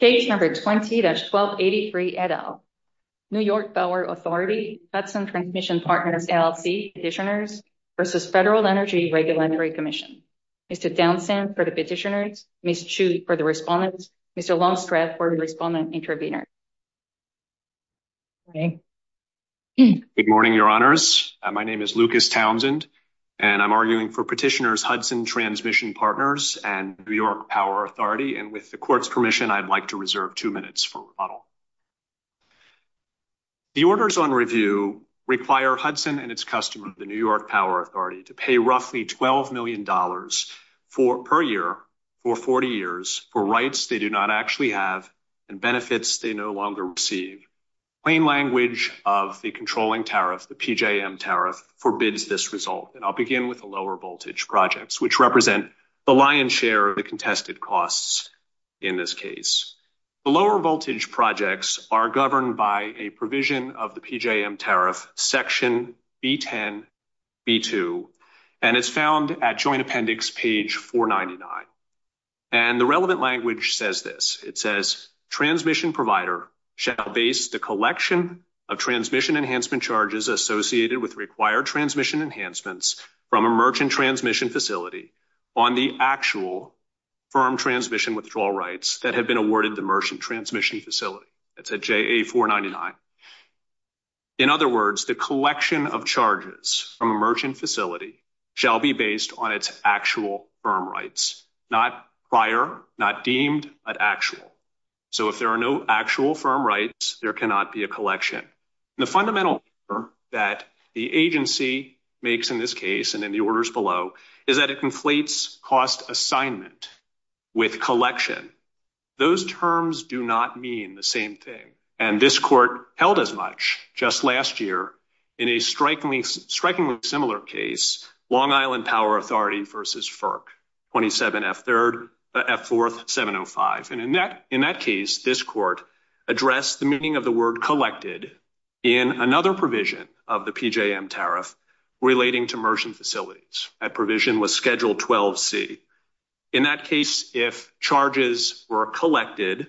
Case number 20-1283, et al. New York Power Authority, Hudson Transmission Partners, LLC, Petitioners v. Federal Energy Regulatory Commission. Mr. Downsend for the petitioners, Ms. Chu for the respondents, Mr. Longstreth for the respondent intervener. Good morning, your honors. My name is Lucas Townsend, and I'm arguing for petitioners, Hudson Transmission Partners and New York Power Authority. And with the court's permission, I'd like to reserve 2 minutes for rebuttal. The orders on review require Hudson and its customer, the New York Power Authority, to pay roughly $12 million per year for 40 years for rights they do not actually have and benefits they no longer receive. Plain language of the controlling tariff, the PJM tariff, forbids this result. And I'll begin with the lower voltage projects, which represent the lion's share of the contested costs in this case. The lower voltage projects are governed by a provision of the PJM tariff, Section B10-B2, and it's found at Joint Appendix page 499. And the relevant language says this. It says, transmission provider shall base the collection of transmission enhancement charges associated with required transmission enhancements from a merchant transmission facility on the actual firm transmission withdrawal rights that have been awarded the merchant transmission facility. That's at JA-499. In other words, the collection of charges from a merchant facility shall be based on its actual firm rights, not prior, not deemed, but actual. So if there are no actual firm rights, there cannot be a collection. The fundamental error that the agency makes in this case and in the orders below is that it conflates cost assignment with collection. Those terms do not mean the same thing. And this court held as much just last year in a strikingly similar case, Long Island Power Authority versus FERC, 27F4705. And in that case, this court addressed the meaning of the word collected in another provision of the PJM tariff relating to merchant facilities. That provision was Schedule 12C. In that case, if charges were collected,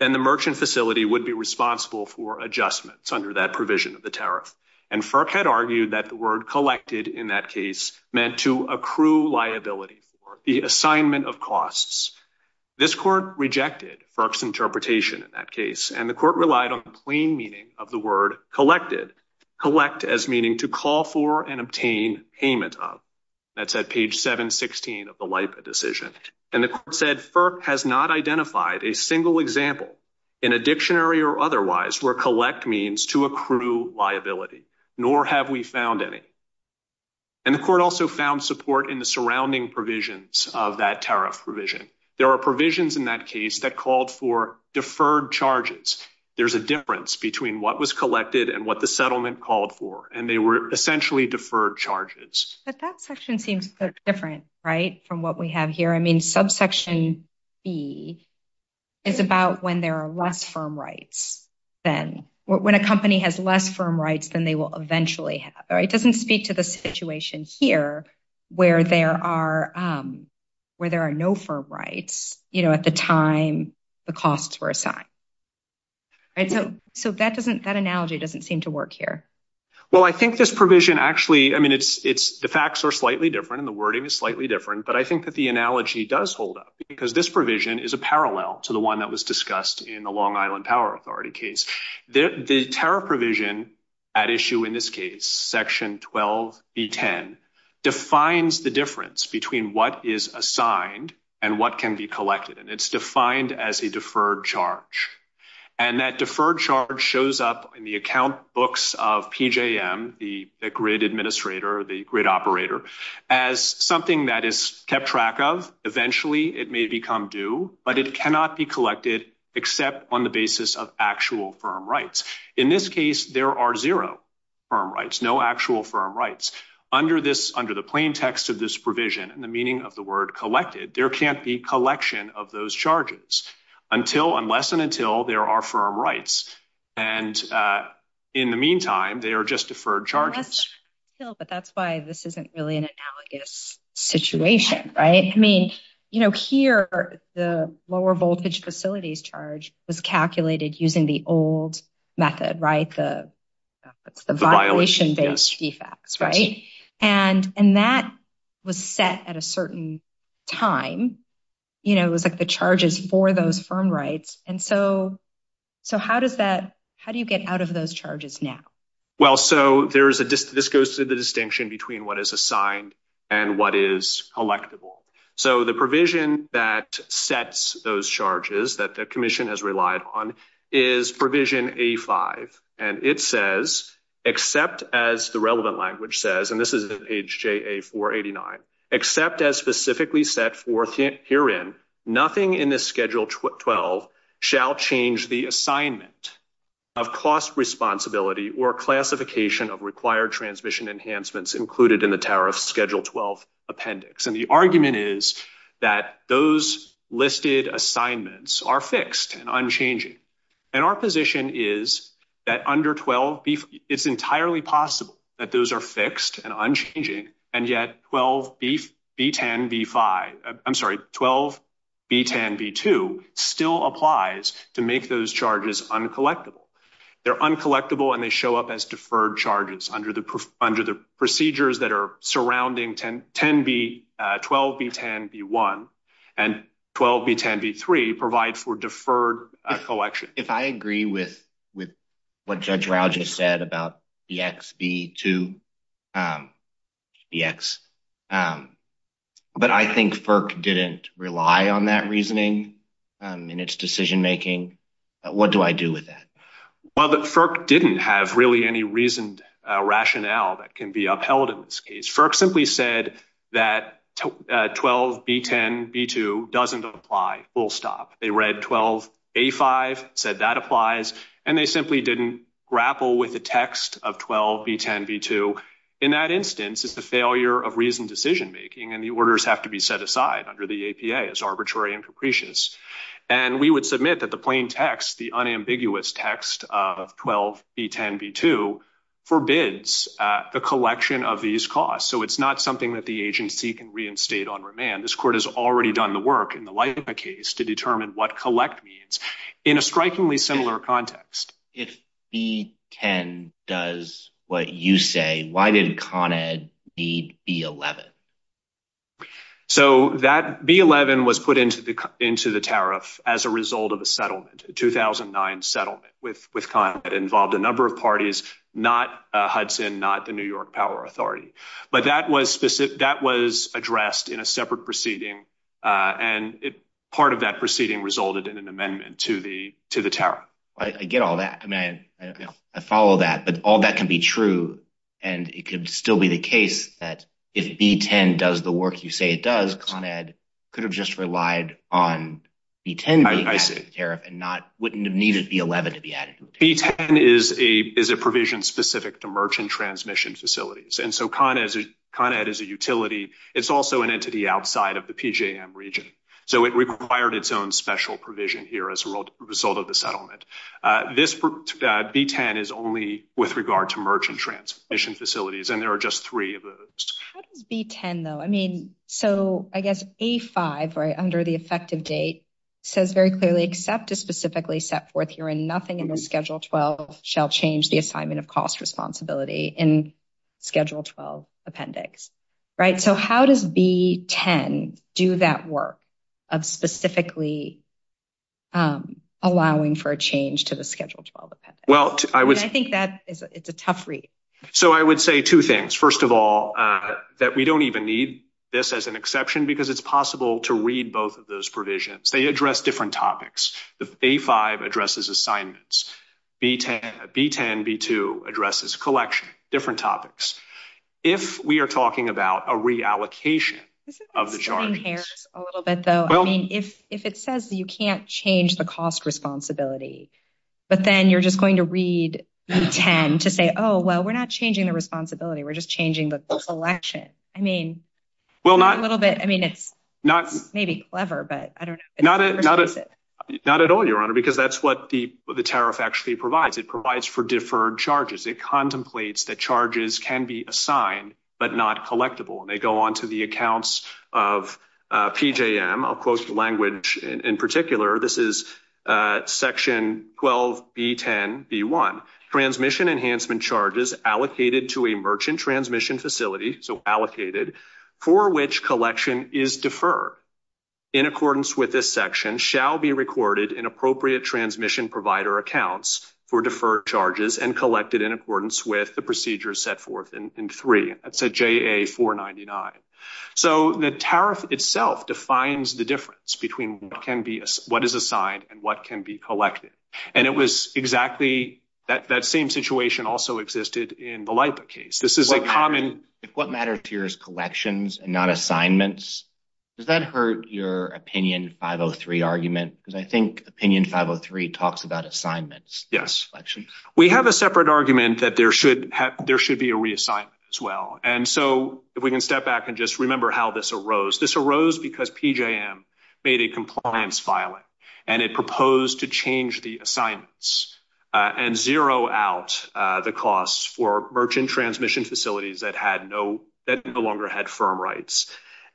then the merchant facility would be responsible for adjustments under that provision of the tariff. And FERC had argued that the word collected in that case meant to accrue liability for the assignment of costs. This court rejected FERC's interpretation in that case, and the court relied on the plain meaning of the word collected, collect as meaning to call for and obtain payment of. That's at page 716 of the LIPA decision. And the court said FERC has not identified a single example in a dictionary or otherwise where collect means to accrue liability, nor have we found any. And the court also found support in the surrounding provisions of that tariff provision. There are provisions in that case that called for deferred charges. There's a difference between what was collected and what the settlement called for, and they were essentially deferred charges. But that section seems different, right, from what we have here. I mean, subsection B is about when there are less firm rights than when a company has less firm rights than they will eventually have. It doesn't speak to the situation here where there are where there are no firm rights, you know, at the time the costs were assigned. So that doesn't that analogy doesn't seem to work here. Well, I think this provision actually I mean, it's it's the facts are slightly different and the wording is slightly different, but I think that the analogy does hold up because this provision is a parallel to the one that was discussed in the Long Island Power Authority case. The tariff provision at issue in this case, section 12B10, defines the difference between what is assigned and what can be collected, and it's defined as a deferred charge. And that deferred charge shows up in the account books of PJM, the grid administrator, the grid operator, as something that is kept track of. Eventually, it may become due, but it cannot be collected except on the basis of actual firm rights. In this case, there are zero firm rights, no actual firm rights. Under the plain text of this provision and the meaning of the word collected, there can't be collection of those charges unless and until there are firm rights. And in the meantime, they are just deferred charges. But that's why this isn't really an analogous situation, right? I mean, you know, here, the lower voltage facilities charge was calculated using the old method, right? The violation-based defects, right? And that was set at a certain time. You know, it was like the charges for those firm rights. And so how do you get out of those charges now? Well, so this goes to the distinction between what is assigned and what is collectible. So the provision that sets those charges that the commission has relied on is provision A-5, and it says, except as the relevant language says, and this is in page JA-489, except as specifically set forth herein, nothing in this Schedule 12 shall change the assignment of cost responsibility or classification of required transmission enhancements included in the tariff Schedule 12 appendix. And the argument is that those listed assignments are fixed and unchanging. And our position is that under 12B, it's entirely possible that those are fixed and unchanging, and yet 12B10B2 still applies to make those charges uncollectible. They're uncollectible, and they show up as deferred charges under the procedures that are surrounding 12B10B1. And 12B10B3 provide for deferred collection. If I agree with what Judge Rao just said about BXB2, BX, but I think FERC didn't rely on that reasoning in its decision making, what do I do with that? Well, FERC didn't have really any reasoned rationale that can be upheld in this case. FERC simply said that 12B10B2 doesn't apply, full stop. They read 12A-5, said that applies, and they simply didn't grapple with the text of 12B10B2. In that instance, it's the failure of reasoned decision making, and the orders have to be set aside under the APA as arbitrary and capricious. And we would submit that the plain text, the unambiguous text of 12B10B2, forbids the collection of these costs. So it's not something that the agency can reinstate on remand. This court has already done the work in the Lima case to determine what collect means in a strikingly similar context. If B10 does what you say, why did Con Ed need B11? So B11 was put into the tariff as a result of a settlement, a 2009 settlement with Con Ed. It involved a number of parties, not Hudson, not the New York Power Authority. But that was addressed in a separate proceeding, and part of that proceeding resulted in an amendment to the tariff. I get all that. I mean, I follow that, but all that can be true, and it could still be the case that if B10 does the work you say it does, Con Ed could have just relied on B10 being added to the tariff and wouldn't have needed B11 to be added to the tariff. B10 is a provision specific to merchant transmission facilities, and so Con Ed is a utility. It's also an entity outside of the PJM region, so it required its own special provision here as a result of the settlement. This B10 is only with regard to merchant transmission facilities, and there are just three of those. How does B10, though? I mean, so I guess A5, right under the effective date, says very clearly, except to specifically set forth here and nothing in the Schedule 12 shall change the assignment of cost responsibility in Schedule 12 appendix, right? So how does B10 do that work of specifically allowing for a change to the Schedule 12 appendix? I think that it's a tough read. So I would say two things. First of all, that we don't even need this as an exception because it's possible to read both of those provisions. They address different topics. The A5 addresses assignments. B10, B2 addresses collection, different topics. If we are talking about a reallocation of the jargons. Well, if it says you can't change the cost responsibility, but then you're just going to read B10 to say, oh, well, we're not changing the responsibility. We're just changing the selection. I mean, well, not a little bit. I mean, it's not maybe clever, but I don't know. Not at all, Your Honor, because that's what the tariff actually provides. It provides for deferred charges. It contemplates that charges can be assigned, but not collectible. And they go on to the accounts of PJM. I'll quote the language in particular. This is section 12, B10, B1. Transmission enhancement charges allocated to a merchant transmission facility. So allocated for which collection is deferred in accordance with this section shall be recorded in appropriate transmission provider accounts for deferred charges and collected in accordance with the procedures set forth in three. That's a JA-499. So the tariff itself defines the difference between what is assigned and what can be collected. And it was exactly that same situation also existed in the LIPA case. This is a common. What matters to you is collections and not assignments? Does that hurt your opinion 503 argument? Because I think opinion 503 talks about assignments. We have a separate argument that there should be a reassignment as well. And so if we can step back and just remember how this arose. This arose because PJM made a compliance filing and it proposed to change the assignments and zero out the costs for merchant transmission facilities that no longer had firm rights.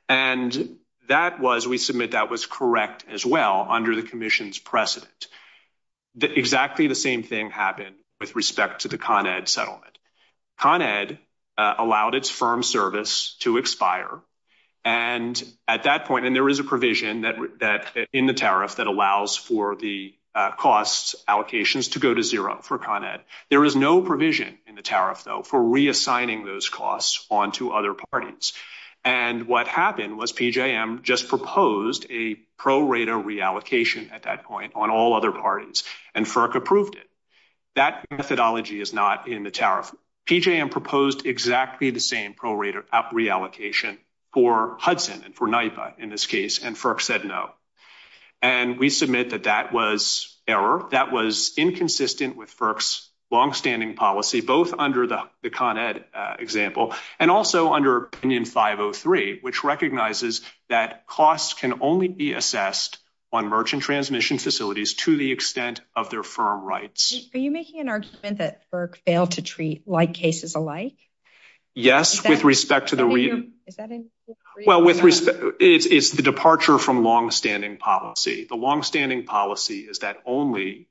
And that was we submit that was correct as well under the commission's precedent. Exactly the same thing happened with respect to the Con Ed settlement. Con Ed allowed its firm service to expire. And at that point, and there is a provision that in the tariff that allows for the costs allocations to go to zero for Con Ed. There is no provision in the tariff, though, for reassigning those costs on to other parties. And what happened was PJM just proposed a prorater reallocation at that point on all other parties and FERC approved it. That methodology is not in the tariff. PJM proposed exactly the same prorater reallocation for Hudson and for NYPA in this case. And FERC said no. And we submit that that was error. That was inconsistent with FERC's longstanding policy, both under the Con Ed example and also under opinion 503, which recognizes that costs can only be assessed on merchant transmission facilities to the extent of their firm rights. Are you making an argument that FERC failed to treat like cases alike? Yes, with respect to the. Well, with respect, it's the departure from longstanding policy. The longstanding policy is that only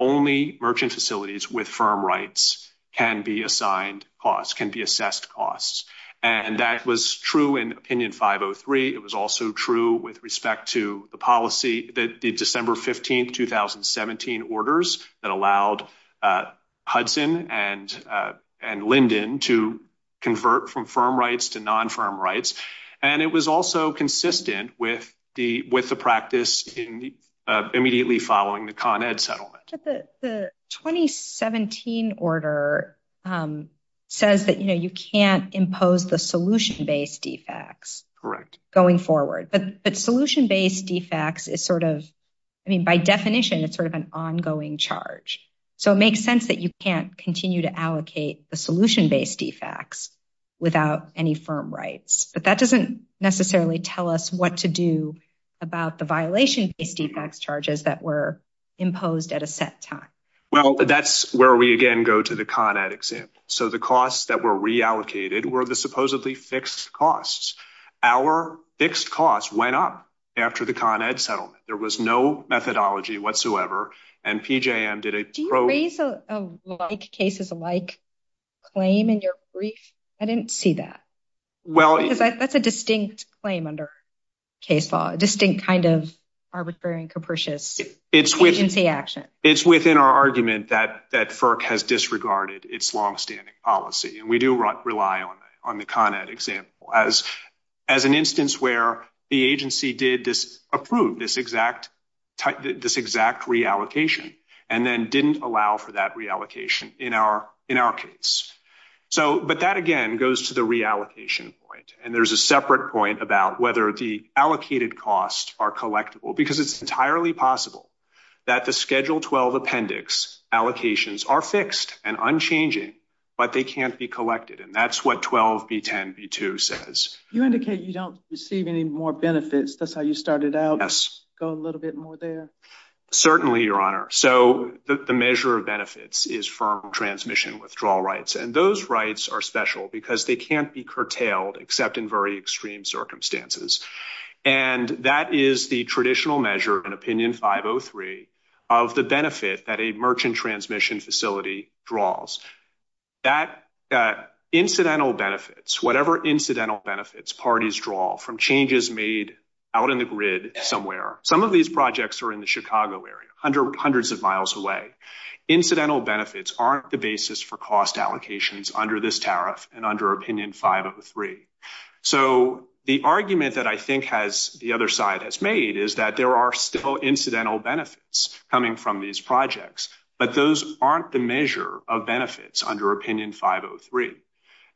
merchant facilities with firm rights can be assigned costs, can be assessed costs. And that was true in opinion 503. It was also true with respect to the policy that the December 15th, 2017 orders that allowed Hudson and Linden to convert from firm rights to non firm rights. And it was also consistent with the with the practice in immediately following the Con Ed settlement. The 2017 order says that, you know, you can't impose the solution based defects going forward. But solution based defects is sort of, I mean, by definition, it's sort of an ongoing charge. So it makes sense that you can't continue to allocate the solution based defects without any firm rights. But that doesn't necessarily tell us what to do about the violation based defects charges that were imposed at a set time. Well, that's where we again go to the Con Ed example. So the costs that were reallocated were the supposedly fixed costs. Our fixed costs went up after the Con Ed settlement. There was no methodology whatsoever. And PJM did a. Do you raise a like cases alike claim in your brief? I didn't see that. Well, that's a distinct claim under case law, a distinct kind of arbitrary and capricious agency action. It's within our argument that that FERC has disregarded its longstanding policy. And we do rely on the Con Ed example as an instance where the agency did approve this exact reallocation and then didn't allow for that reallocation in our case. But that, again, goes to the reallocation point. And there's a separate point about whether the allocated costs are collectible, because it's entirely possible that the Schedule 12 appendix allocations are fixed and unchanging, but they can't be collected. And that's what 12B10B2 says. You indicate you don't receive any more benefits. That's how you started out. Go a little bit more there. Certainly, Your Honor. So the measure of benefits is firm transmission withdrawal rights, and those rights are special because they can't be curtailed except in very extreme circumstances. And that is the traditional measure in Opinion 503 of the benefit that a merchant transmission facility draws. That incidental benefits, whatever incidental benefits parties draw from changes made out in the grid somewhere, some of these projects are in the Chicago area, hundreds of miles away. Incidental benefits aren't the basis for cost allocations under this tariff and under Opinion 503. So the argument that I think the other side has made is that there are still incidental benefits coming from these projects, but those aren't the measure of benefits under Opinion 503.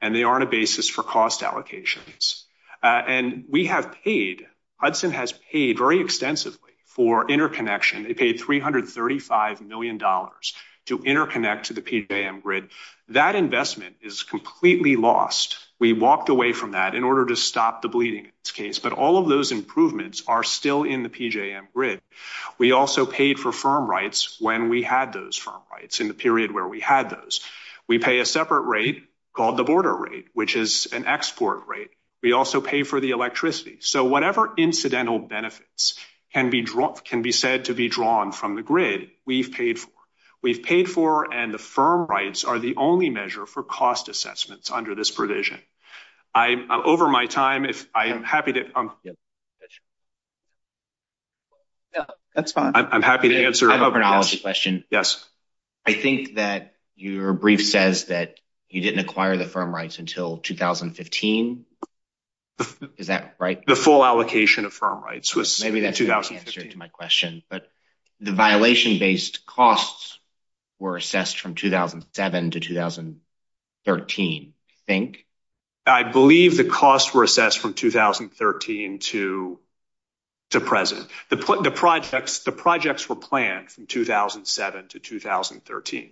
And they aren't a basis for cost allocations. And we have paid, Hudson has paid very extensively for interconnection. They paid $335 million to interconnect to the PJM grid. That investment is completely lost. We walked away from that in order to stop the bleeding in this case, but all of those improvements are still in the PJM grid. We also paid for firm rights when we had those firm rights in the period where we had those. We pay a separate rate called the border rate, which is an export rate. We also pay for the electricity. So whatever incidental benefits can be said to be drawn from the grid, we've paid for. We've paid for and the firm rights are the only measure for cost assessments under this provision. I'm over my time. If I am happy to. That's fine. I'm happy to answer a question. Yes. I think that your brief says that you didn't acquire the firm rights until 2015. Is that right? The full allocation of firm rights was in 2015. Maybe that's the answer to my question, but the violation-based costs were assessed from 2007 to 2013, I think. I believe the costs were assessed from 2013 to present. The projects were planned from 2007 to 2013.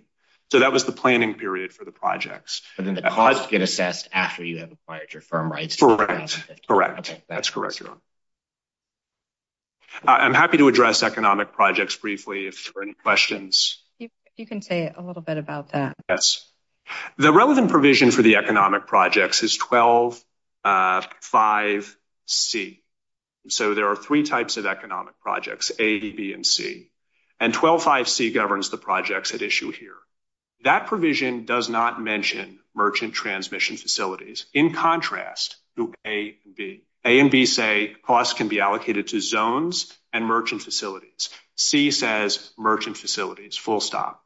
So that was the planning period for the projects. But then the costs get assessed after you have acquired your firm rights. Correct. That's correct. I'm happy to address economic projects briefly if there are any questions. You can say a little bit about that. Yes. The relevant provision for the economic projects is 12-5C. So there are three types of economic projects, A, B, and C. And 12-5C governs the projects at issue here. That provision does not mention merchant transmission facilities. In contrast to A and B. A and B say costs can be allocated to zones and merchant facilities. C says merchant facilities, full stop.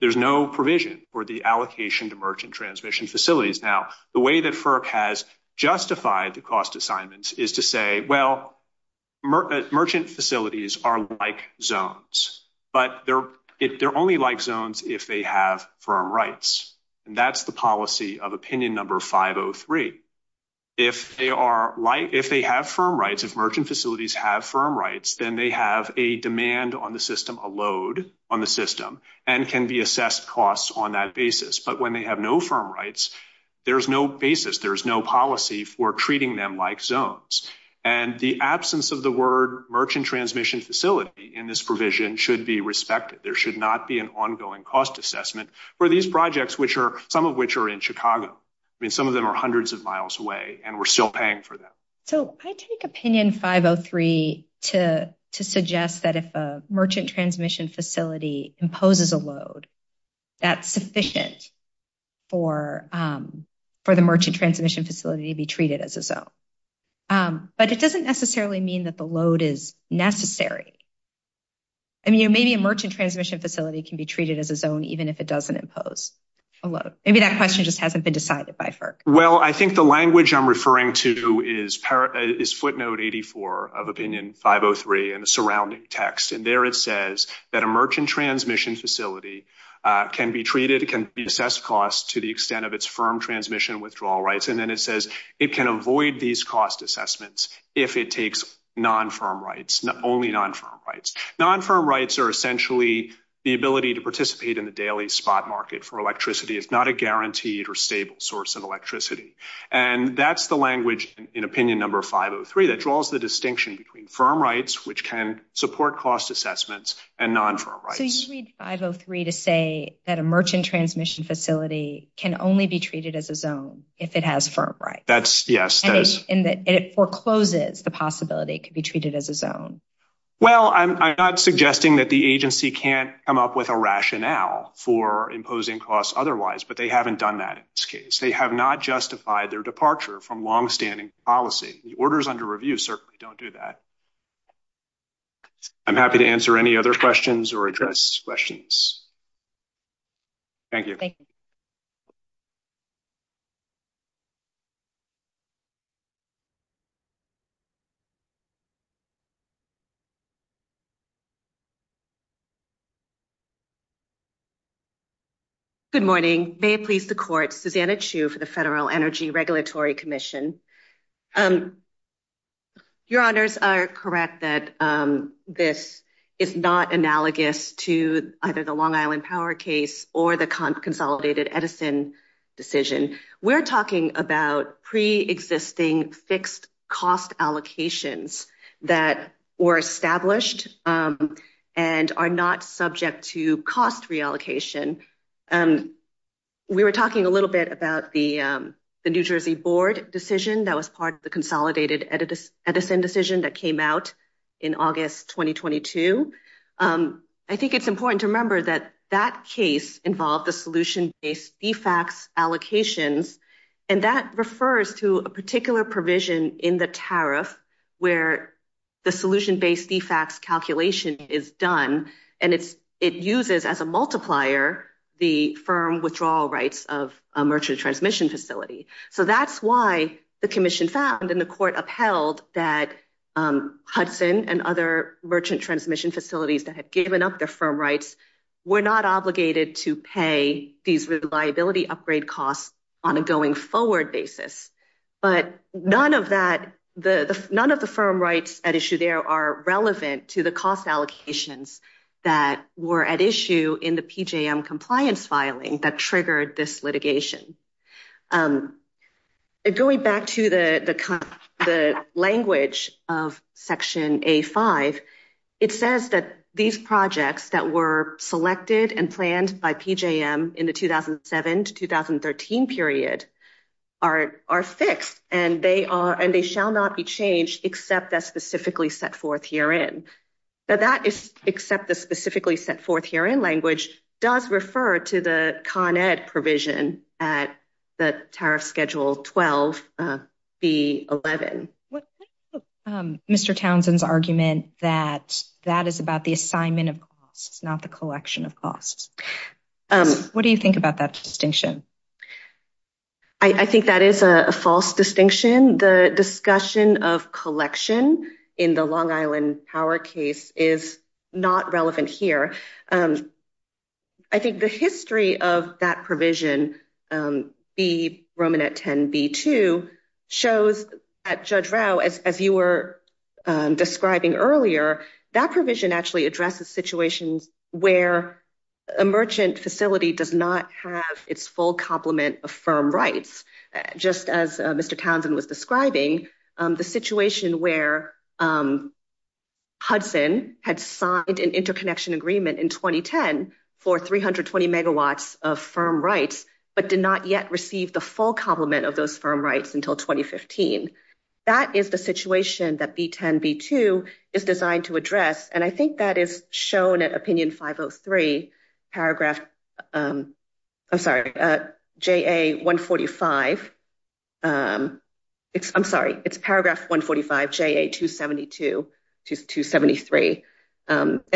There's no provision for the allocation to merchant transmission facilities. Now, the way that FERC has justified the cost assignments is to say, well, merchant facilities are like zones. But they're only like zones if they have firm rights. And that's the policy of opinion number 503. If they have firm rights, if merchant facilities have firm rights, then they have a demand on the system, a load on the system, and can be assessed costs on that basis. But when they have no firm rights, there's no basis, there's no policy for treating them like zones. And the absence of the word merchant transmission facility in this provision should be respected. There should not be an ongoing cost assessment for these projects, some of which are in Chicago. I mean, some of them are hundreds of miles away, and we're still paying for them. So I take opinion 503 to suggest that if a merchant transmission facility imposes a load, that's sufficient for the merchant transmission facility to be treated as a zone. But it doesn't necessarily mean that the load is necessary. I mean, maybe a merchant transmission facility can be treated as a zone, even if it doesn't impose a load. Maybe that question just hasn't been decided by FERC. Well, I think the language I'm referring to is footnote 84 of opinion 503 and the surrounding text. And there it says that a merchant transmission facility can be treated, can be assessed costs to the extent of its firm transmission withdrawal rights. And then it says it can avoid these cost assessments if it takes non-firm rights, only non-firm rights. Non-firm rights are essentially the ability to participate in the daily spot market for electricity. It's not a guaranteed or stable source of electricity. And that's the language in opinion number 503 that draws the distinction between firm rights, which can support cost assessments, and non-firm rights. So you read 503 to say that a merchant transmission facility can only be treated as a zone if it has firm rights. Yes, that is. And it forecloses the possibility it could be treated as a zone. Well, I'm not suggesting that the agency can't come up with a rationale for imposing costs otherwise, but they haven't done that in this case. They have not justified their departure from longstanding policy. The orders under review certainly don't do that. I'm happy to answer any other questions or address questions. Thank you. Thank you. Good morning. May it please the court. Susanna Chu for the Federal Energy Regulatory Commission. Your honors are correct that this is not analogous to either the Long Island power case or the consolidated Edison decision. We're talking about pre-existing fixed cost allocations that were established and are not subject to cost reallocation. We were talking a little bit about the New Jersey board decision that was part of the consolidated Edison decision that came out in August 2022. I think it's important to remember that that case involved the solution based defects allocations. And that refers to a particular provision in the tariff where the solution based defects calculation is done. And it's it uses as a multiplier the firm withdrawal rights of a merchant transmission facility. So that's why the commission found in the court upheld that Hudson and other merchant transmission facilities that had given up their firm rights were not obligated to pay these reliability upgrade costs on a going forward basis. But none of that, none of the firm rights at issue there are relevant to the cost allocations that were at issue in the PJM compliance filing that triggered this litigation. Going back to the language of Section A5, it says that these projects that were selected and planned by PJM in the 2007 to 2013 period are fixed and they shall not be changed except that specifically set forth herein. But that is except the specifically set forth here in language does refer to the Con Ed provision at the tariff schedule 12B11. Mr. Townsend's argument that that is about the assignment of costs, not the collection of costs. What do you think about that distinction? I think that is a false distinction. The discussion of collection in the Long Island power case is not relevant here. I think the history of that provision, B, Roman at 10B2, shows at Judge Rao, as you were describing earlier, that provision actually addresses situations where a merchant facility does not have its full complement of firm rights. Just as Mr. Townsend was describing, the situation where Hudson had signed an interconnection agreement in 2010 for 320 megawatts of firm rights, but did not yet receive the full complement of those firm rights until 2015. That is the situation that B10B2 is designed to address, and I think that is shown at opinion 503 paragraph, I'm sorry, JA145. And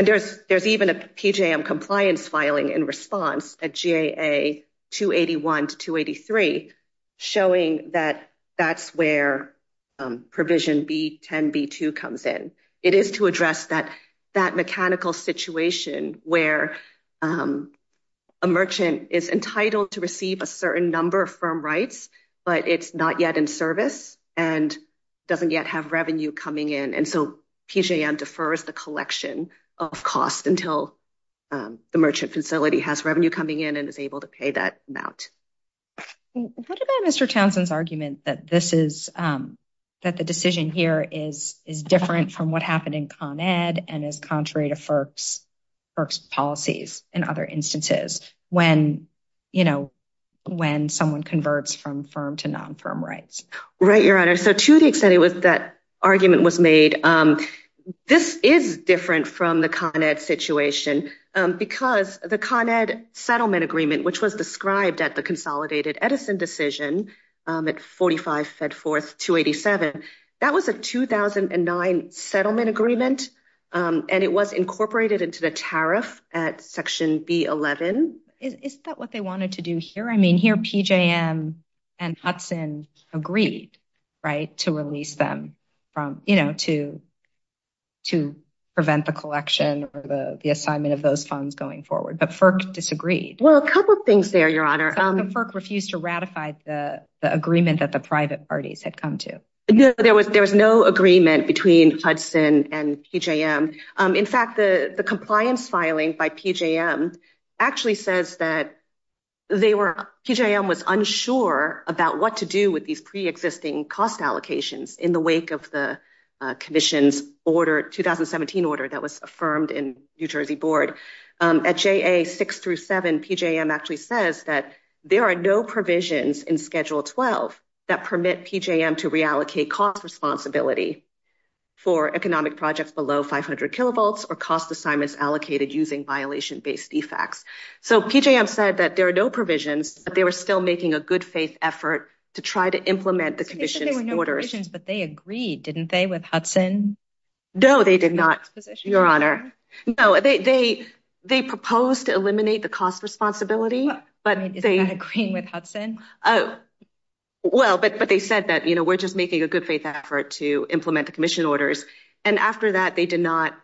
there's even a PJM compliance filing in response at JA281 to 283, showing that that's where provision B10B2 comes in. It is to address that mechanical situation where a merchant is entitled to receive a certain number of firm rights, but it's not yet in service and doesn't yet have revenue coming in. And so PJM defers the collection of costs until the merchant facility has revenue coming in and is able to pay that amount. What about Mr. Townsend's argument that the decision here is different from what happened in Con Ed and is contrary to FERC's policies and other instances when someone converts from firm to non-firm rights? Right, Your Honor. So to the extent it was that argument was made, this is different from the Con Ed situation because the Con Ed settlement agreement, which was described at the consolidated Edison decision at 45 FedForce 287, that was a 2009 settlement agreement, and it was incorporated into the tariff at section B11. Is that what they wanted to do here? I mean, here PJM and Hudson agreed, right, to release them from, you know, to prevent the collection or the assignment of those funds going forward. But FERC disagreed. Well, a couple of things there, Your Honor. FERC refused to ratify the agreement that the private parties had come to. No, there was no agreement between Hudson and PJM. In fact, the compliance filing by PJM actually says that PJM was unsure about what to do with these pre-existing cost allocations in the wake of the commission's 2017 order that was affirmed in New Jersey board. At JA 6 through 7, PJM actually says that there are no provisions in Schedule 12 that permit PJM to reallocate cost responsibility for economic projects below 500 kilovolts or cost assignments allocated using violation-based defects. So PJM said that there are no provisions, but they were still making a good faith effort to try to implement the commission's orders. But they agreed, didn't they, with Hudson? No, they did not, Your Honor. No, they proposed to eliminate the cost responsibility. I mean, is that agreeing with Hudson? Oh, well, but they said that, you know, we're just making a good faith effort to implement the commission orders. And after that, they did not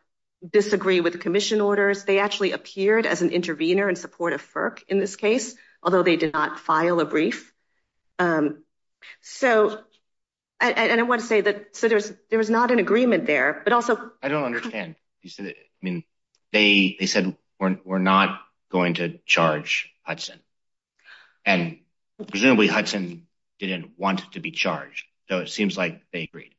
disagree with the commission orders. They actually appeared as an intervener in support of FERC in this case, although they did not file a brief. So, and I want to say that there was not an agreement there, but also — I don't understand. I mean, they said we're not going to charge Hudson. And presumably Hudson didn't want to be charged. So it seems like they agreed.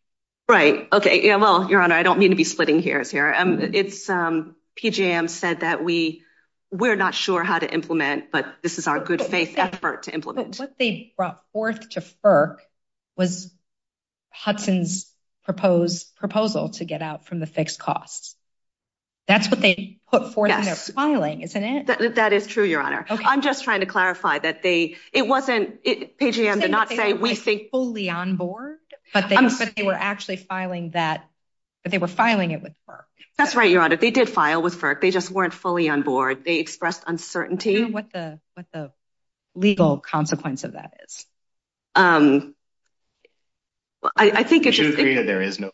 Right. Okay. Yeah, well, Your Honor, I don't mean to be splitting hairs here. PJM said that we're not sure how to implement, but this is our good faith effort to implement. But what they brought forth to FERC was Hudson's proposal to get out from the fixed costs. That's what they put forth in their filing, isn't it? That is true, Your Honor. Okay. I'm just trying to clarify that they — it wasn't — PJM did not say we think — I'm saying that they weren't fully on board, but they were actually filing that — they were filing it with FERC. That's right, Your Honor. They did file with FERC. They just weren't fully on board. They expressed uncertainty. And I can't tell you what the legal consequence of that is. I think it's just — Do you agree that there is no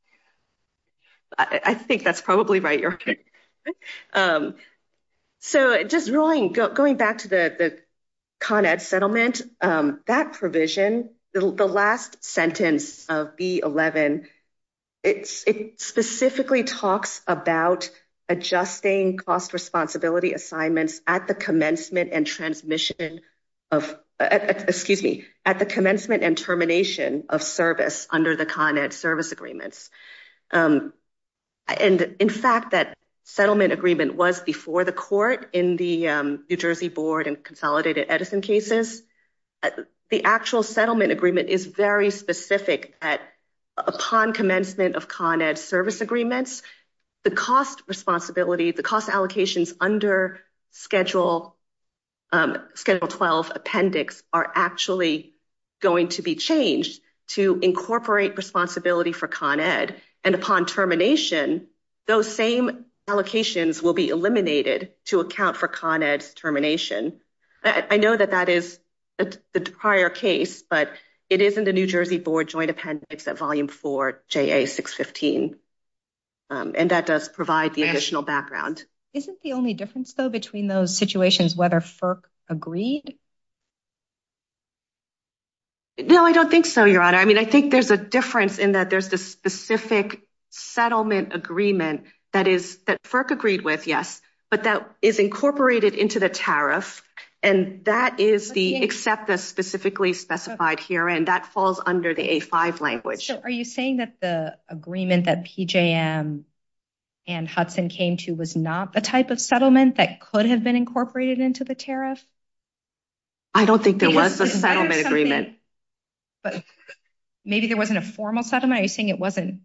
— I think that's probably right, Your Honor. So just rolling — going back to the Con Ed settlement, that provision, the last sentence of B11, it specifically talks about adjusting cost responsibility assignments at the commencement and transmission of — excuse me, at the commencement and termination of service under the Con Ed service agreements. And in fact, that settlement agreement was before the court in the New Jersey Board and Consolidated Edison cases. The actual settlement agreement is very specific. Upon commencement of Con Ed service agreements, the cost responsibility, the cost allocations under Schedule 12 appendix are actually going to be changed to incorporate responsibility for Con Ed. And upon termination, those same allocations will be eliminated to account for Con Ed's termination. I know that that is the prior case, but it is in the New Jersey Board joint appendix at Volume 4, JA 615. And that does provide the additional background. Isn't the only difference, though, between those situations whether FERC agreed? No, I don't think so, Your Honor. I mean, I think there's a difference in that there's the specific settlement agreement that is — that FERC agreed with, yes. But that is incorporated into the tariff, and that is the except the specifically specified here, and that falls under the A5 language. So are you saying that the agreement that PJM and Hudson came to was not the type of settlement that could have been incorporated into the tariff? I don't think there was a settlement agreement. But maybe there wasn't a formal settlement? Are you saying it wasn't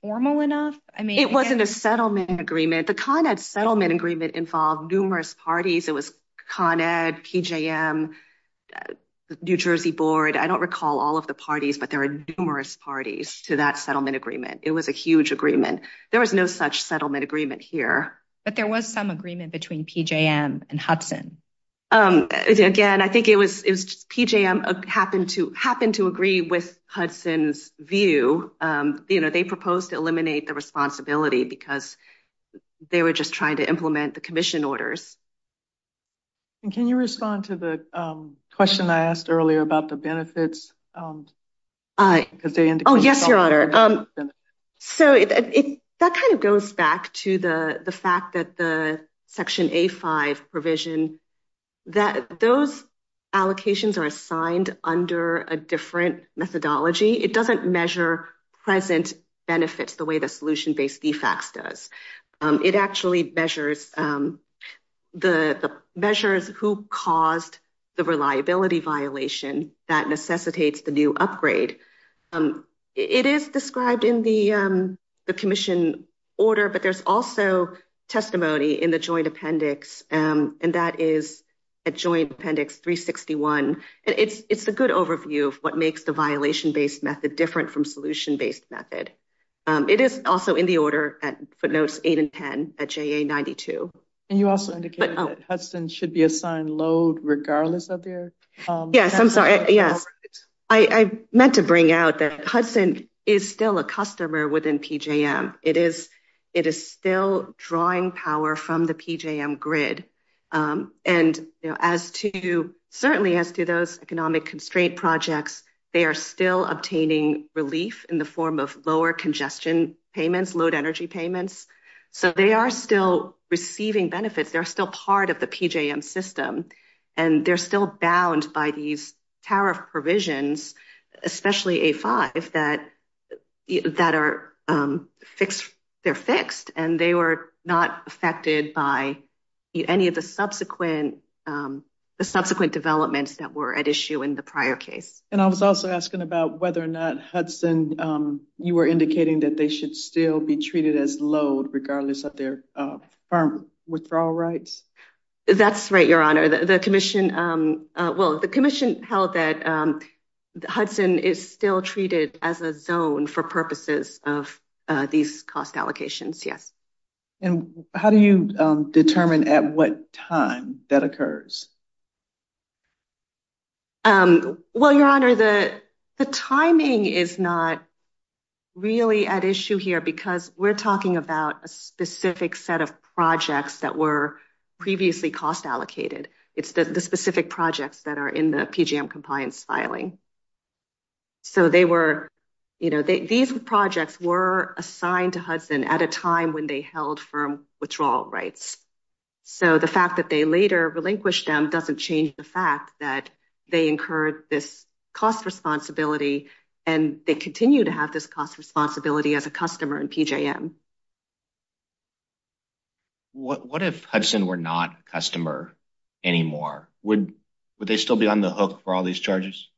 formal enough? It wasn't a settlement agreement. The Con Ed settlement agreement involved numerous parties. It was Con Ed, PJM, the New Jersey Board. I don't recall all of the parties, but there are numerous parties to that settlement agreement. It was a huge agreement. There was no such settlement agreement here. But there was some agreement between PJM and Hudson. Again, I think it was PJM happened to agree with Hudson's view. They proposed to eliminate the responsibility because they were just trying to implement the commission orders. And can you respond to the question I asked earlier about the benefits? Oh, yes, Your Honor. So that kind of goes back to the fact that the Section A5 provision, that those allocations are assigned under a different methodology. It doesn't measure present benefits the way the solution-based DFACs does. It actually measures who caused the reliability violation that necessitates the new upgrade. It is described in the commission order, but there's also testimony in the joint appendix. And that is at Joint Appendix 361. And it's a good overview of what makes the violation-based method different from solution-based method. It is also in the order at footnotes 8 and 10 at JA92. And you also indicated that Hudson should be assigned load regardless of their— Yes, I'm sorry. Yes. I meant to bring out that Hudson is still a customer within PJM. It is still drawing power from the PJM grid. And as to—certainly as to those economic constraint projects, they are still obtaining relief in the form of lower congestion payments, load energy payments. So they are still receiving benefits. They're still part of the PJM system. And they're still bound by these tariff provisions, especially A5, that are fixed. And they were not affected by any of the subsequent developments that were at issue in the prior case. And I was also asking about whether or not Hudson—you were indicating that they should still be treated as load regardless of their firm withdrawal rights. That's right, Your Honor. The commission—well, the commission held that Hudson is still treated as a zone for purposes of these cost allocations, yes. And how do you determine at what time that occurs? Well, Your Honor, the timing is not really at issue here because we're talking about a specific set of projects that were previously cost allocated. It's the specific projects that are in the PJM compliance filing. So they were—you know, these projects were assigned to Hudson at a time when they held firm withdrawal rights. So the fact that they later relinquished them doesn't change the fact that they incurred this cost responsibility, and they continue to have this cost responsibility as a customer in PJM. What if Hudson were not a customer anymore? Would they still be on the hook for all these charges?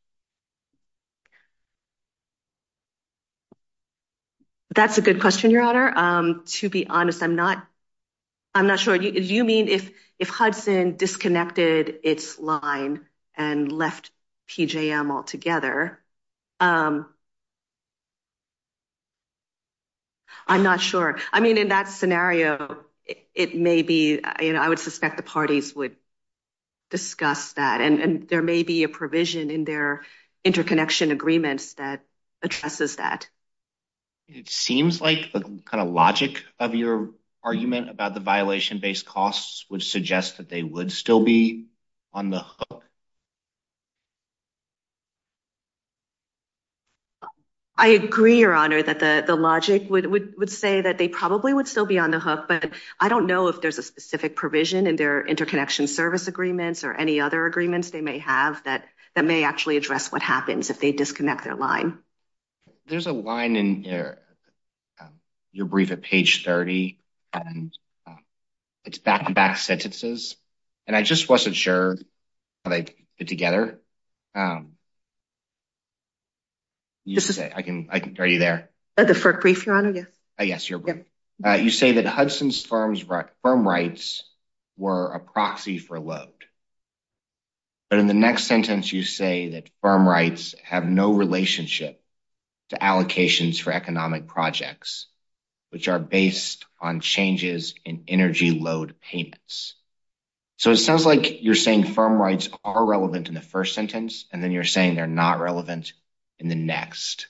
That's a good question, Your Honor. To be honest, I'm not—I'm not sure. Do you mean if Hudson disconnected its line and left PJM altogether? I'm not sure. I mean, in that scenario, it may be—I would suspect the parties would discuss that, and there may be a provision in their interconnection agreements that addresses that. It seems like the kind of logic of your argument about the violation-based costs would suggest that they would still be on the hook. I agree, Your Honor, that the logic would say that they probably would still be on the hook, but I don't know if there's a specific provision in their interconnection service agreements or any other agreements they may have that may actually address what happens if they disconnect their line. There's a line in your brief at page 30, and it's back-to-back sentences, and I just wasn't sure how they fit together. Are you there? The FERC brief, Your Honor, yes. Yes, your brief. You say that Hudson's firm rights were a proxy for a load, but in the next sentence, you say that firm rights have no relationship to allocations for economic projects, which are based on changes in energy load payments. So it sounds like you're saying firm rights are relevant in the first sentence, and then you're saying they're not relevant in the next,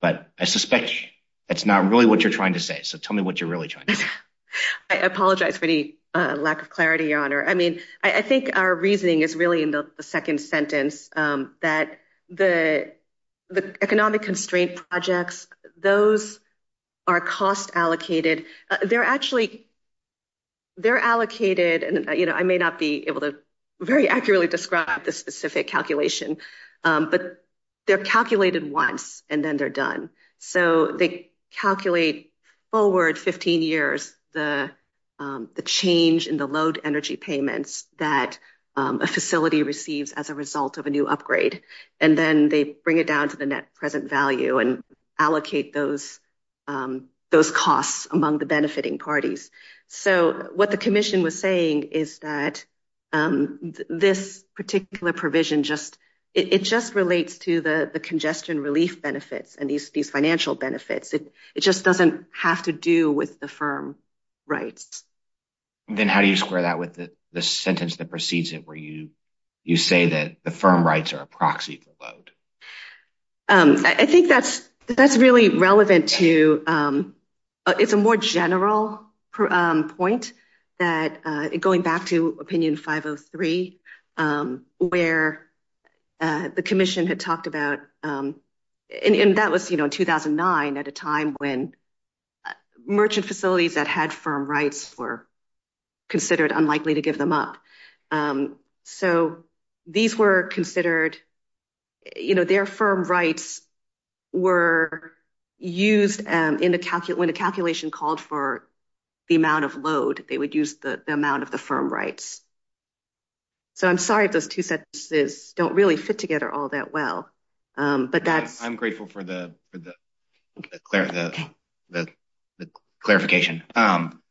but I suspect that's not really what you're trying to say, so tell me what you're really trying to say. I apologize for any lack of clarity, Your Honor. I mean, I think our reasoning is really in the second sentence, that the economic constraint projects, those are cost-allocated. They're allocated, and I may not be able to very accurately describe the specific calculation, but they're calculated once, and then they're done. So they calculate forward 15 years the change in the load energy payments that a facility receives as a result of a new upgrade, and then they bring it down to the net present value and allocate those costs among the benefiting parties. So what the commission was saying is that this particular provision, it just relates to the congestion relief benefits and these financial benefits. It just doesn't have to do with the firm rights. Then how do you square that with the sentence that precedes it, where you say that the firm rights are a proxy for load? I think that's really relevant, too. It's a more general point that, going back to opinion 503, where the commission had talked about, and that was in 2009 at a time when merchant facilities that had firm rights were considered unlikely to give them up. So their firm rights were used when a calculation called for the amount of load. They would use the amount of the firm rights. So I'm sorry if those two sentences don't really fit together all that well. I'm grateful for the clarification. Can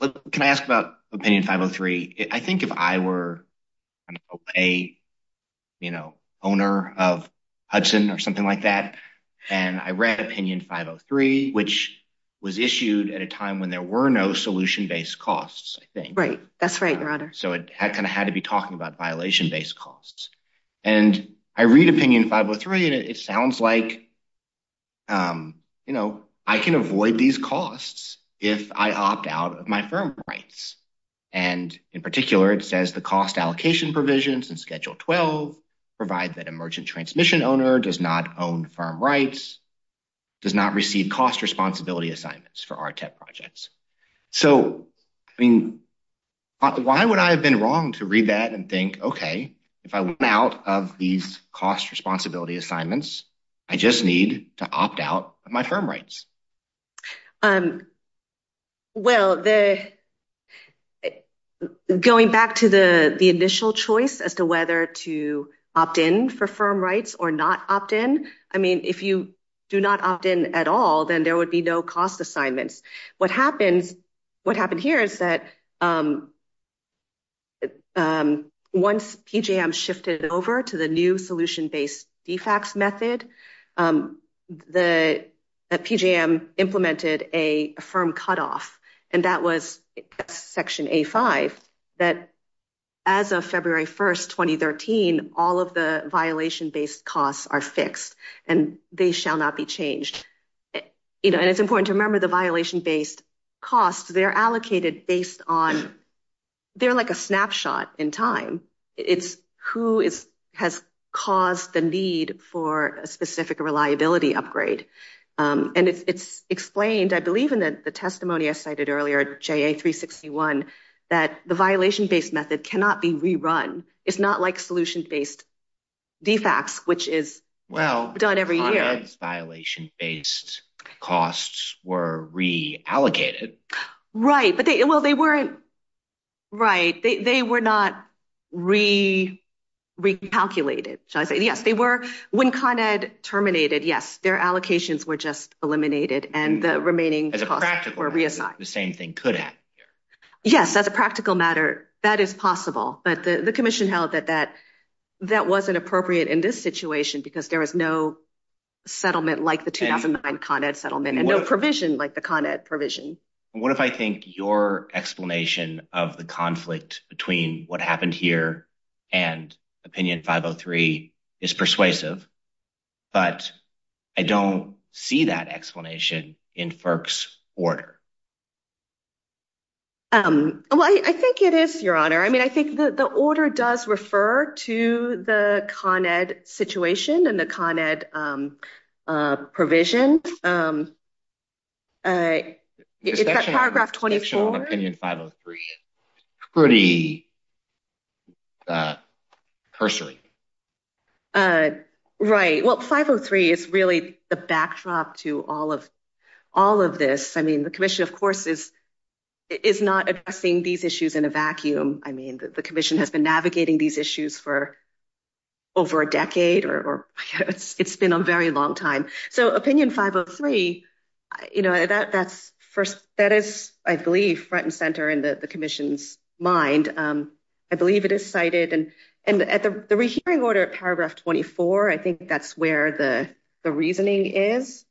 I ask about opinion 503? I think if I were a owner of Hudson or something like that, and I read opinion 503, which was issued at a time when there were no solution-based costs, I think. Right. That's right, Your Honor. So it kind of had to be talking about violation-based costs. And I read opinion 503, and it sounds like I can avoid these costs if I opt out of my firm rights. And in particular, it says the cost allocation provisions in Schedule 12 provide that a merchant transmission owner does not own firm rights, does not receive cost responsibility assignments for RTEP projects. So, I mean, why would I have been wrong to read that and think, okay, if I want out of these cost responsibility assignments, I just need to opt out of my firm rights? Well, going back to the initial choice as to whether to opt in for firm rights or not opt in, I mean, if you do not opt in at all, then there would be no cost assignments. What happened here is that once PJM shifted over to the new solution-based DFAX method, PJM implemented a firm cutoff, and that was Section A5, that as of February 1st, 2013, all of the violation-based costs are fixed and they shall not be changed. And it's important to remember the violation-based costs, they're allocated based on – they're like a snapshot in time. It's who has caused the need for a specific reliability upgrade. And it's explained, I believe, in the testimony I cited earlier, JA361, that the violation-based method cannot be rerun. It's not like solution-based DFAX, which is done every year. But when CONED's violation-based costs were reallocated – Right, but they – well, they weren't – right. They were not re-calculated, shall I say. Yes, they were – when CONED terminated, yes, their allocations were just eliminated, and the remaining costs were reassigned. As a practical matter, the same thing could happen here. Yes, as a practical matter, that is possible. But the commission held that that wasn't appropriate in this situation because there was no settlement like the 2009 CONED settlement and no provision like the CONED provision. What if I think your explanation of the conflict between what happened here and Opinion 503 is persuasive, but I don't see that explanation in FERC's order? Well, I think it is, Your Honor. I mean, I think the order does refer to the CONED situation and the CONED provision. It's at paragraph 24. It's actually on Opinion 503. It's pretty cursory. Right. Well, 503 is really the backdrop to all of this. I mean, the commission, of course, is not addressing these issues in a vacuum. I mean, the commission has been navigating these issues for over a decade, or it's been a very long time. So Opinion 503, you know, that is, I believe, front and center in the commission's mind. I believe it is cited. And at the rehearing order at paragraph 24, I think that's where the reasoning is.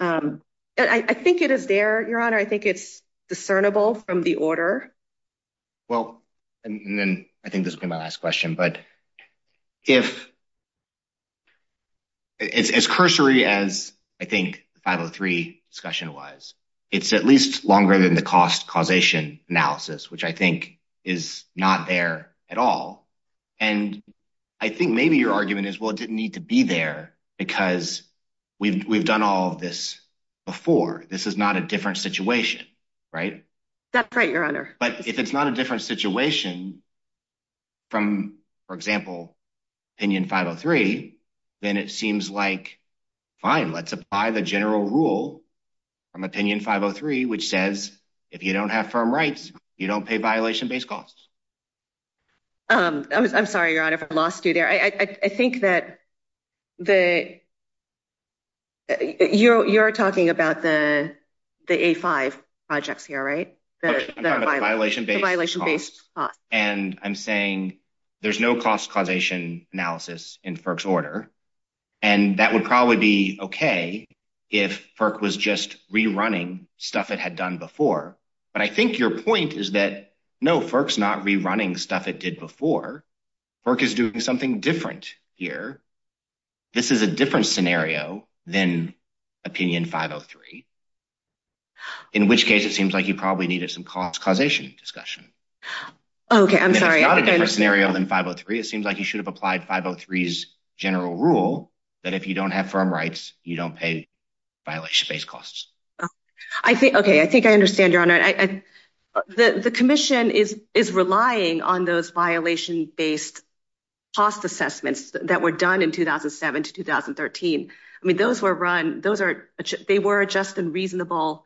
I think it is there, Your Honor. I think it's discernible from the order. Well, and then I think this will be my last question. But if it's as cursory as I think the 503 discussion was, it's at least longer than the cost causation analysis, which I think is not there at all. And I think maybe your argument is, well, it didn't need to be there, because we've done all of this before. This is not a different situation, right? That's right, Your Honor. But if it's not a different situation from, for example, Opinion 503, then it seems like, fine, let's apply the general rule from Opinion 503, which says if you don't have firm rights, you don't pay violation-based costs. I'm sorry, Your Honor, if I lost you there. I think that you're talking about the A5 projects here, right? The violation-based costs. And I'm saying there's no cost causation analysis in FERC's order. And that would probably be okay if FERC was just rerunning stuff it had done before. But I think your point is that, no, FERC's not rerunning stuff it did before. FERC is doing something different here. This is a different scenario than Opinion 503, in which case it seems like you probably needed some cost causation discussion. Okay, I'm sorry. It's not a different scenario than 503. It seems like you should have applied 503's general rule that if you don't have firm rights, you don't pay violation-based costs. Okay, I think I understand, Your Honor. The commission is relying on those violation-based cost assessments that were done in 2007 to 2013. They were a just and reasonable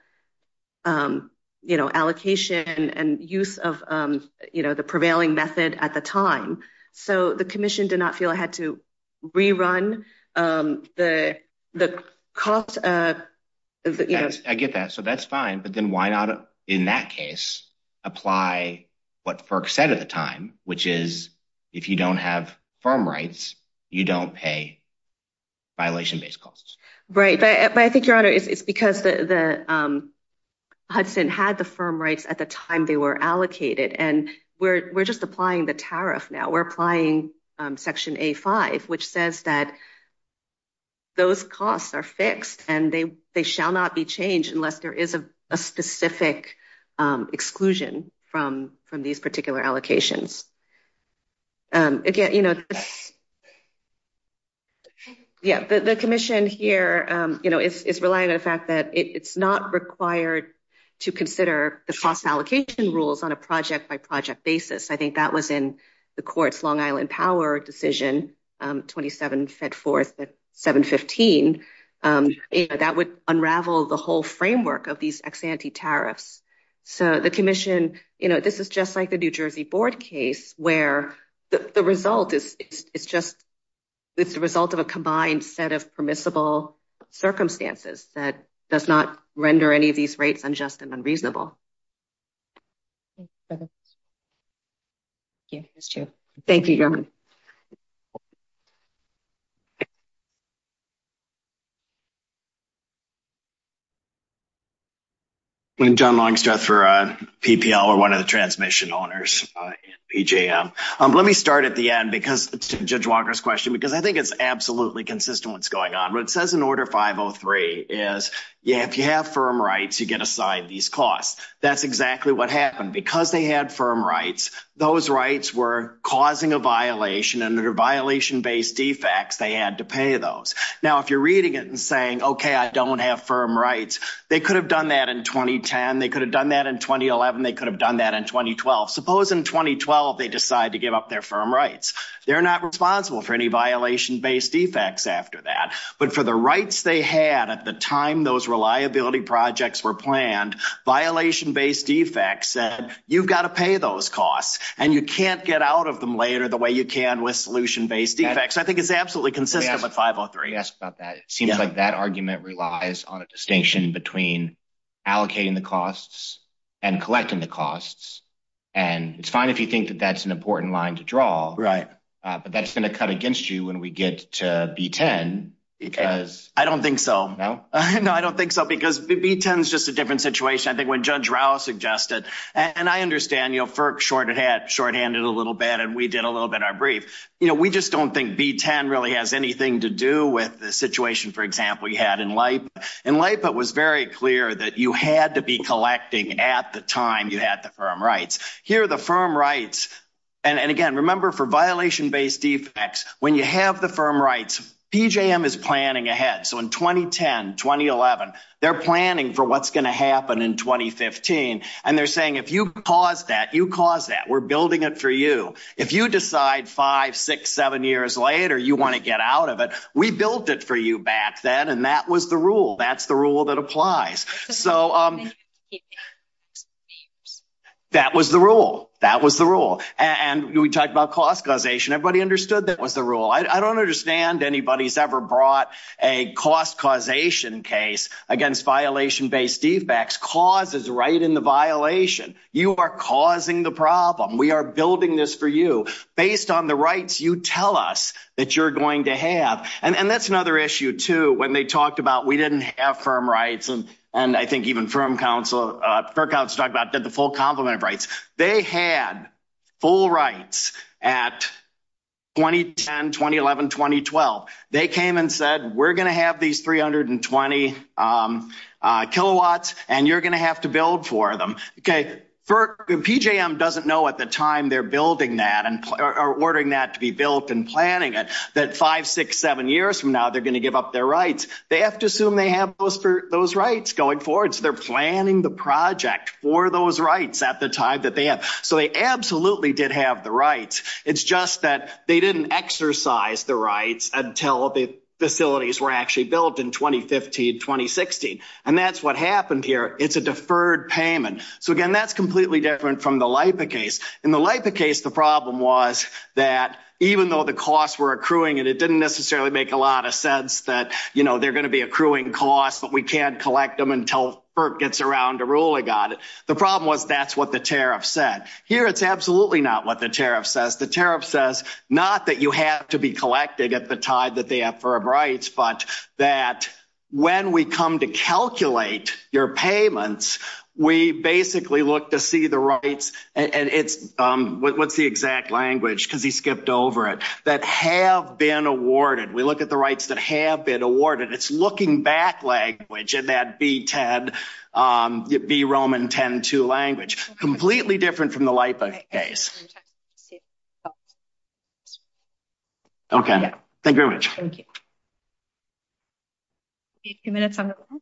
allocation and use of the prevailing method at the time. So the commission did not feel it had to rerun the cost. I get that. So that's fine. But then why not, in that case, apply what FERC said at the time, which is if you don't have firm rights, you don't pay violation-based costs. Right. But I think, Your Honor, it's because Hudson had the firm rights at the time they were allocated, and we're just applying the tariff now. We're applying Section A-5, which says that those costs are fixed and they shall not be changed unless there is a specific exclusion from these particular allocations. Again, you know, the commission here, you know, is relying on the fact that it's not required to consider the cost allocation rules on a project-by-project basis. I think that was in the court's Long Island Power decision, 27 fed forth at 7-15. That would unravel the whole framework of these ex-ante tariffs. So the commission, you know, this is just like the New Jersey board case, where the result is just the result of a combined set of permissible circumstances that does not render any of these rates unjust and unreasonable. Thank you. Thank you, Your Honor. I'm John Longstreth for PPL. We're one of the transmission owners in PJM. Let me start at the end because, to Judge Walker's question, because I think it's absolutely consistent what's going on. What it says in Order 503 is, yeah, if you have firm rights, you get aside these costs. That's exactly what happened. Because they had firm rights, those rights were causing a violation, and under violation-based defects, they had to pay those. Now, if you're reading it and saying, okay, I don't have firm rights, they could have done that in 2010, they could have done that in 2011, they could have done that in 2012. Suppose in 2012 they decide to give up their firm rights. They're not responsible for any violation-based defects after that. But for the rights they had at the time those reliability projects were planned, violation-based defects said you've got to pay those costs, and you can't get out of them later the way you can with solution-based defects. I think it's absolutely consistent with 503. Let me ask about that. It seems like that argument relies on a distinction between allocating the costs and collecting the costs. It's fine if you think that that's an important line to draw, but that's going to cut against you when we get to B-10. I don't think so. No? No, I don't think so, because B-10 is just a different situation. I think when Judge Rao suggested, and I understand, FERC shorthanded it a little bit and we did a little bit in our brief. We just don't think B-10 really has anything to do with the situation, for example, you had in LIPA. In LIPA it was very clear that you had to be collecting at the time you had the firm rights. Here the firm rights, and, again, remember for violation-based defects, when you have the firm rights, PJM is planning ahead. So in 2010, 2011, they're planning for what's going to happen in 2015, and they're saying if you cause that, you cause that. We're building it for you. If you decide five, six, seven years later you want to get out of it, we built it for you back then, and that was the rule. That's the rule that applies. So that was the rule. That was the rule. And we talked about cost causation. Everybody understood that was the rule. I don't understand anybody's ever brought a cost causation case against violation-based defects. Cause is right in the violation. You are causing the problem. We are building this for you. Based on the rights you tell us that you're going to have. And that's another issue, too, when they talked about we didn't have firm rights, and I think even firm counsel did the full complement of rights. They had full rights at 2010, 2011, 2012. They came and said we're going to have these 320 kilowatts, and you're going to have to build for them. PJM doesn't know at the time they're building that, or ordering that to be built and planning it, that five, six, seven years from now they're going to give up their rights. They have to assume they have those rights going forward. So they're planning the project for those rights at the time that they have. So they absolutely did have the rights. It's just that they didn't exercise the rights until the facilities were actually built in 2015, 2016. And that's what happened here. It's a deferred payment. So, again, that's completely different from the LIPA case. In the LIPA case the problem was that even though the costs were accruing, and it didn't necessarily make a lot of sense that, you know, they're going to be accruing costs, but we can't collect them until FERC gets around to ruling on it. The problem was that's what the tariff said. Here it's absolutely not what the tariff says. The tariff says not that you have to be collecting at the time that they have firm rights, but that when we come to calculate your payments, we basically look to see the rights, and it's, what's the exact language, because he skipped over it, that have been awarded. We look at the rights that have been awarded. It's looking back language in that B-10, B-Roman 10-2 language. Completely different from the LIPA case. Okay. Thank you very much. Thank you. We have a few minutes on the line.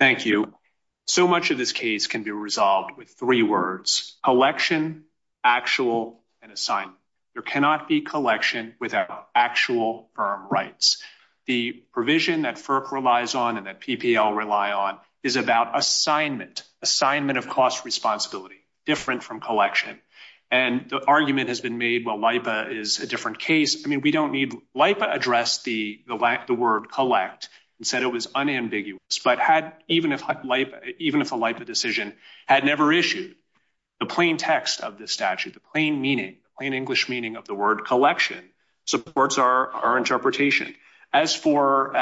Thank you. So much of this case can be resolved with three words, collection, actual, and assignment. There cannot be collection without actual firm rights. The provision that FERC relies on and that PPL rely on is about assignment, assignment of cost responsibility, different from collection. And the argument has been made, well, LIPA is a different case. I mean, we don't need, LIPA addressed the word collect and said it was unambiguous, but even if a LIPA decision had never issued, the plain text of the statute, the plain meaning, plain English meaning of the word collection supports our interpretation. As for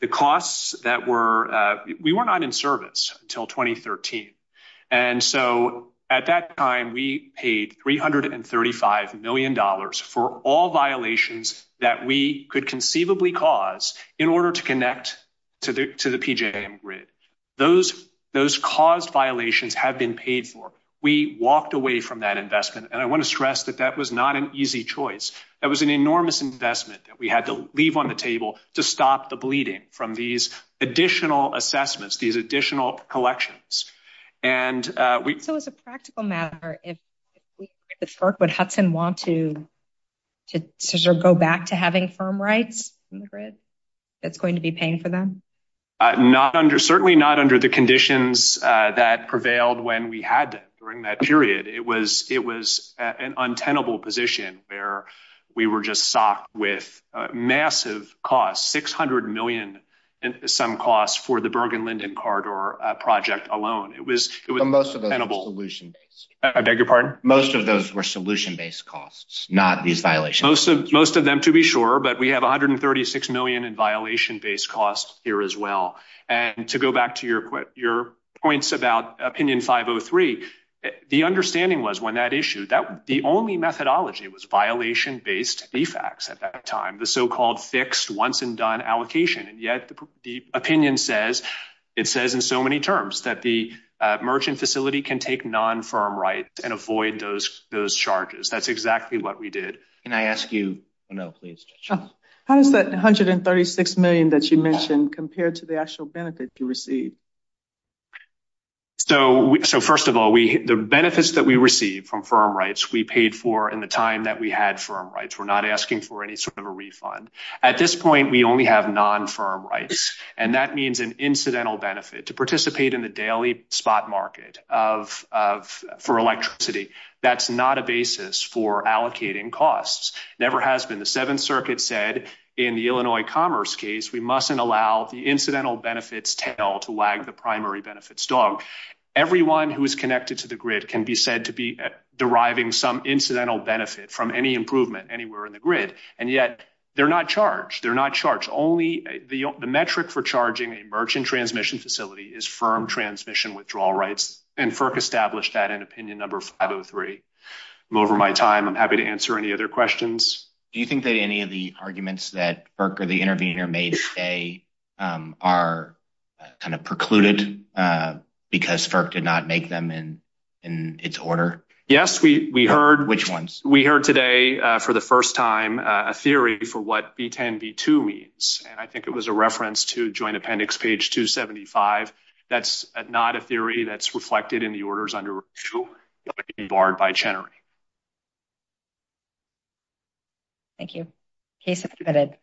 the costs that were, we were not in service until 2013. And so at that time we paid $335 million for all violations that we could conceivably cause in order to connect to the PJM grid. Those caused violations have been paid for. We walked away from that investment. And I want to stress that that was not an easy choice. That was an enormous investment that we had to leave on the table to stop the bleeding from these additional assessments, these additional collections. So as a practical matter, if the FERC would Hudson want to go back to having firm rights in the grid that's going to be paying for them? Not under, certainly not under the conditions that prevailed when we had them during that period. It was an untenable position where we were just socked with massive costs, 600 million. Some costs for the Bergen Linden corridor project alone. It was most of the solution. I beg your pardon. Most of those were solution based costs, not these violations. Most of them to be sure, but we have 136 million in violation based costs here as well. And to go back to your quick, your points about opinion five Oh three, the understanding was when that issue that the only methodology was violation based defects at that time, the so-called fixed once and done allocation. And yet the opinion says, it says in so many terms that the merchant facility can take non firm rights and avoid those, those charges. That's exactly what we did. And I ask you, no, please. How does that 136 million that you mentioned compared to the actual benefit you received? So, so first of all, we, the benefits that we received from firm rights, we paid for in the time that we had firm rights. We're not asking for any sort of a refund at this point. We only have non firm rights. And that means an incidental benefit to participate in the daily spot market of, of for electricity. That's not a basis for allocating costs. Never has been. The seventh circuit said in the Illinois commerce case, we mustn't allow the incidental benefits tail to lag the primary benefits dog. Everyone who is connected to the grid can be said to be deriving some And that's what we're doing. We're in the grid and yet they're not charged. They're not charged. Only the metric for charging a merchant transmission facility is firm transmission, withdrawal rights and FERC established that in opinion, number 503. I'm over my time. I'm happy to answer any other questions. Do you think that any of the arguments that FERC or the intervener may say. Are. Kind of precluded. Because FERC did not make them in. In its order. Yes, we, we heard which ones we heard today. I think it was a reference to joint appendix page 275. That's not a theory that's reflected in the orders under. Barred by Chenery. Thank you. He submitted.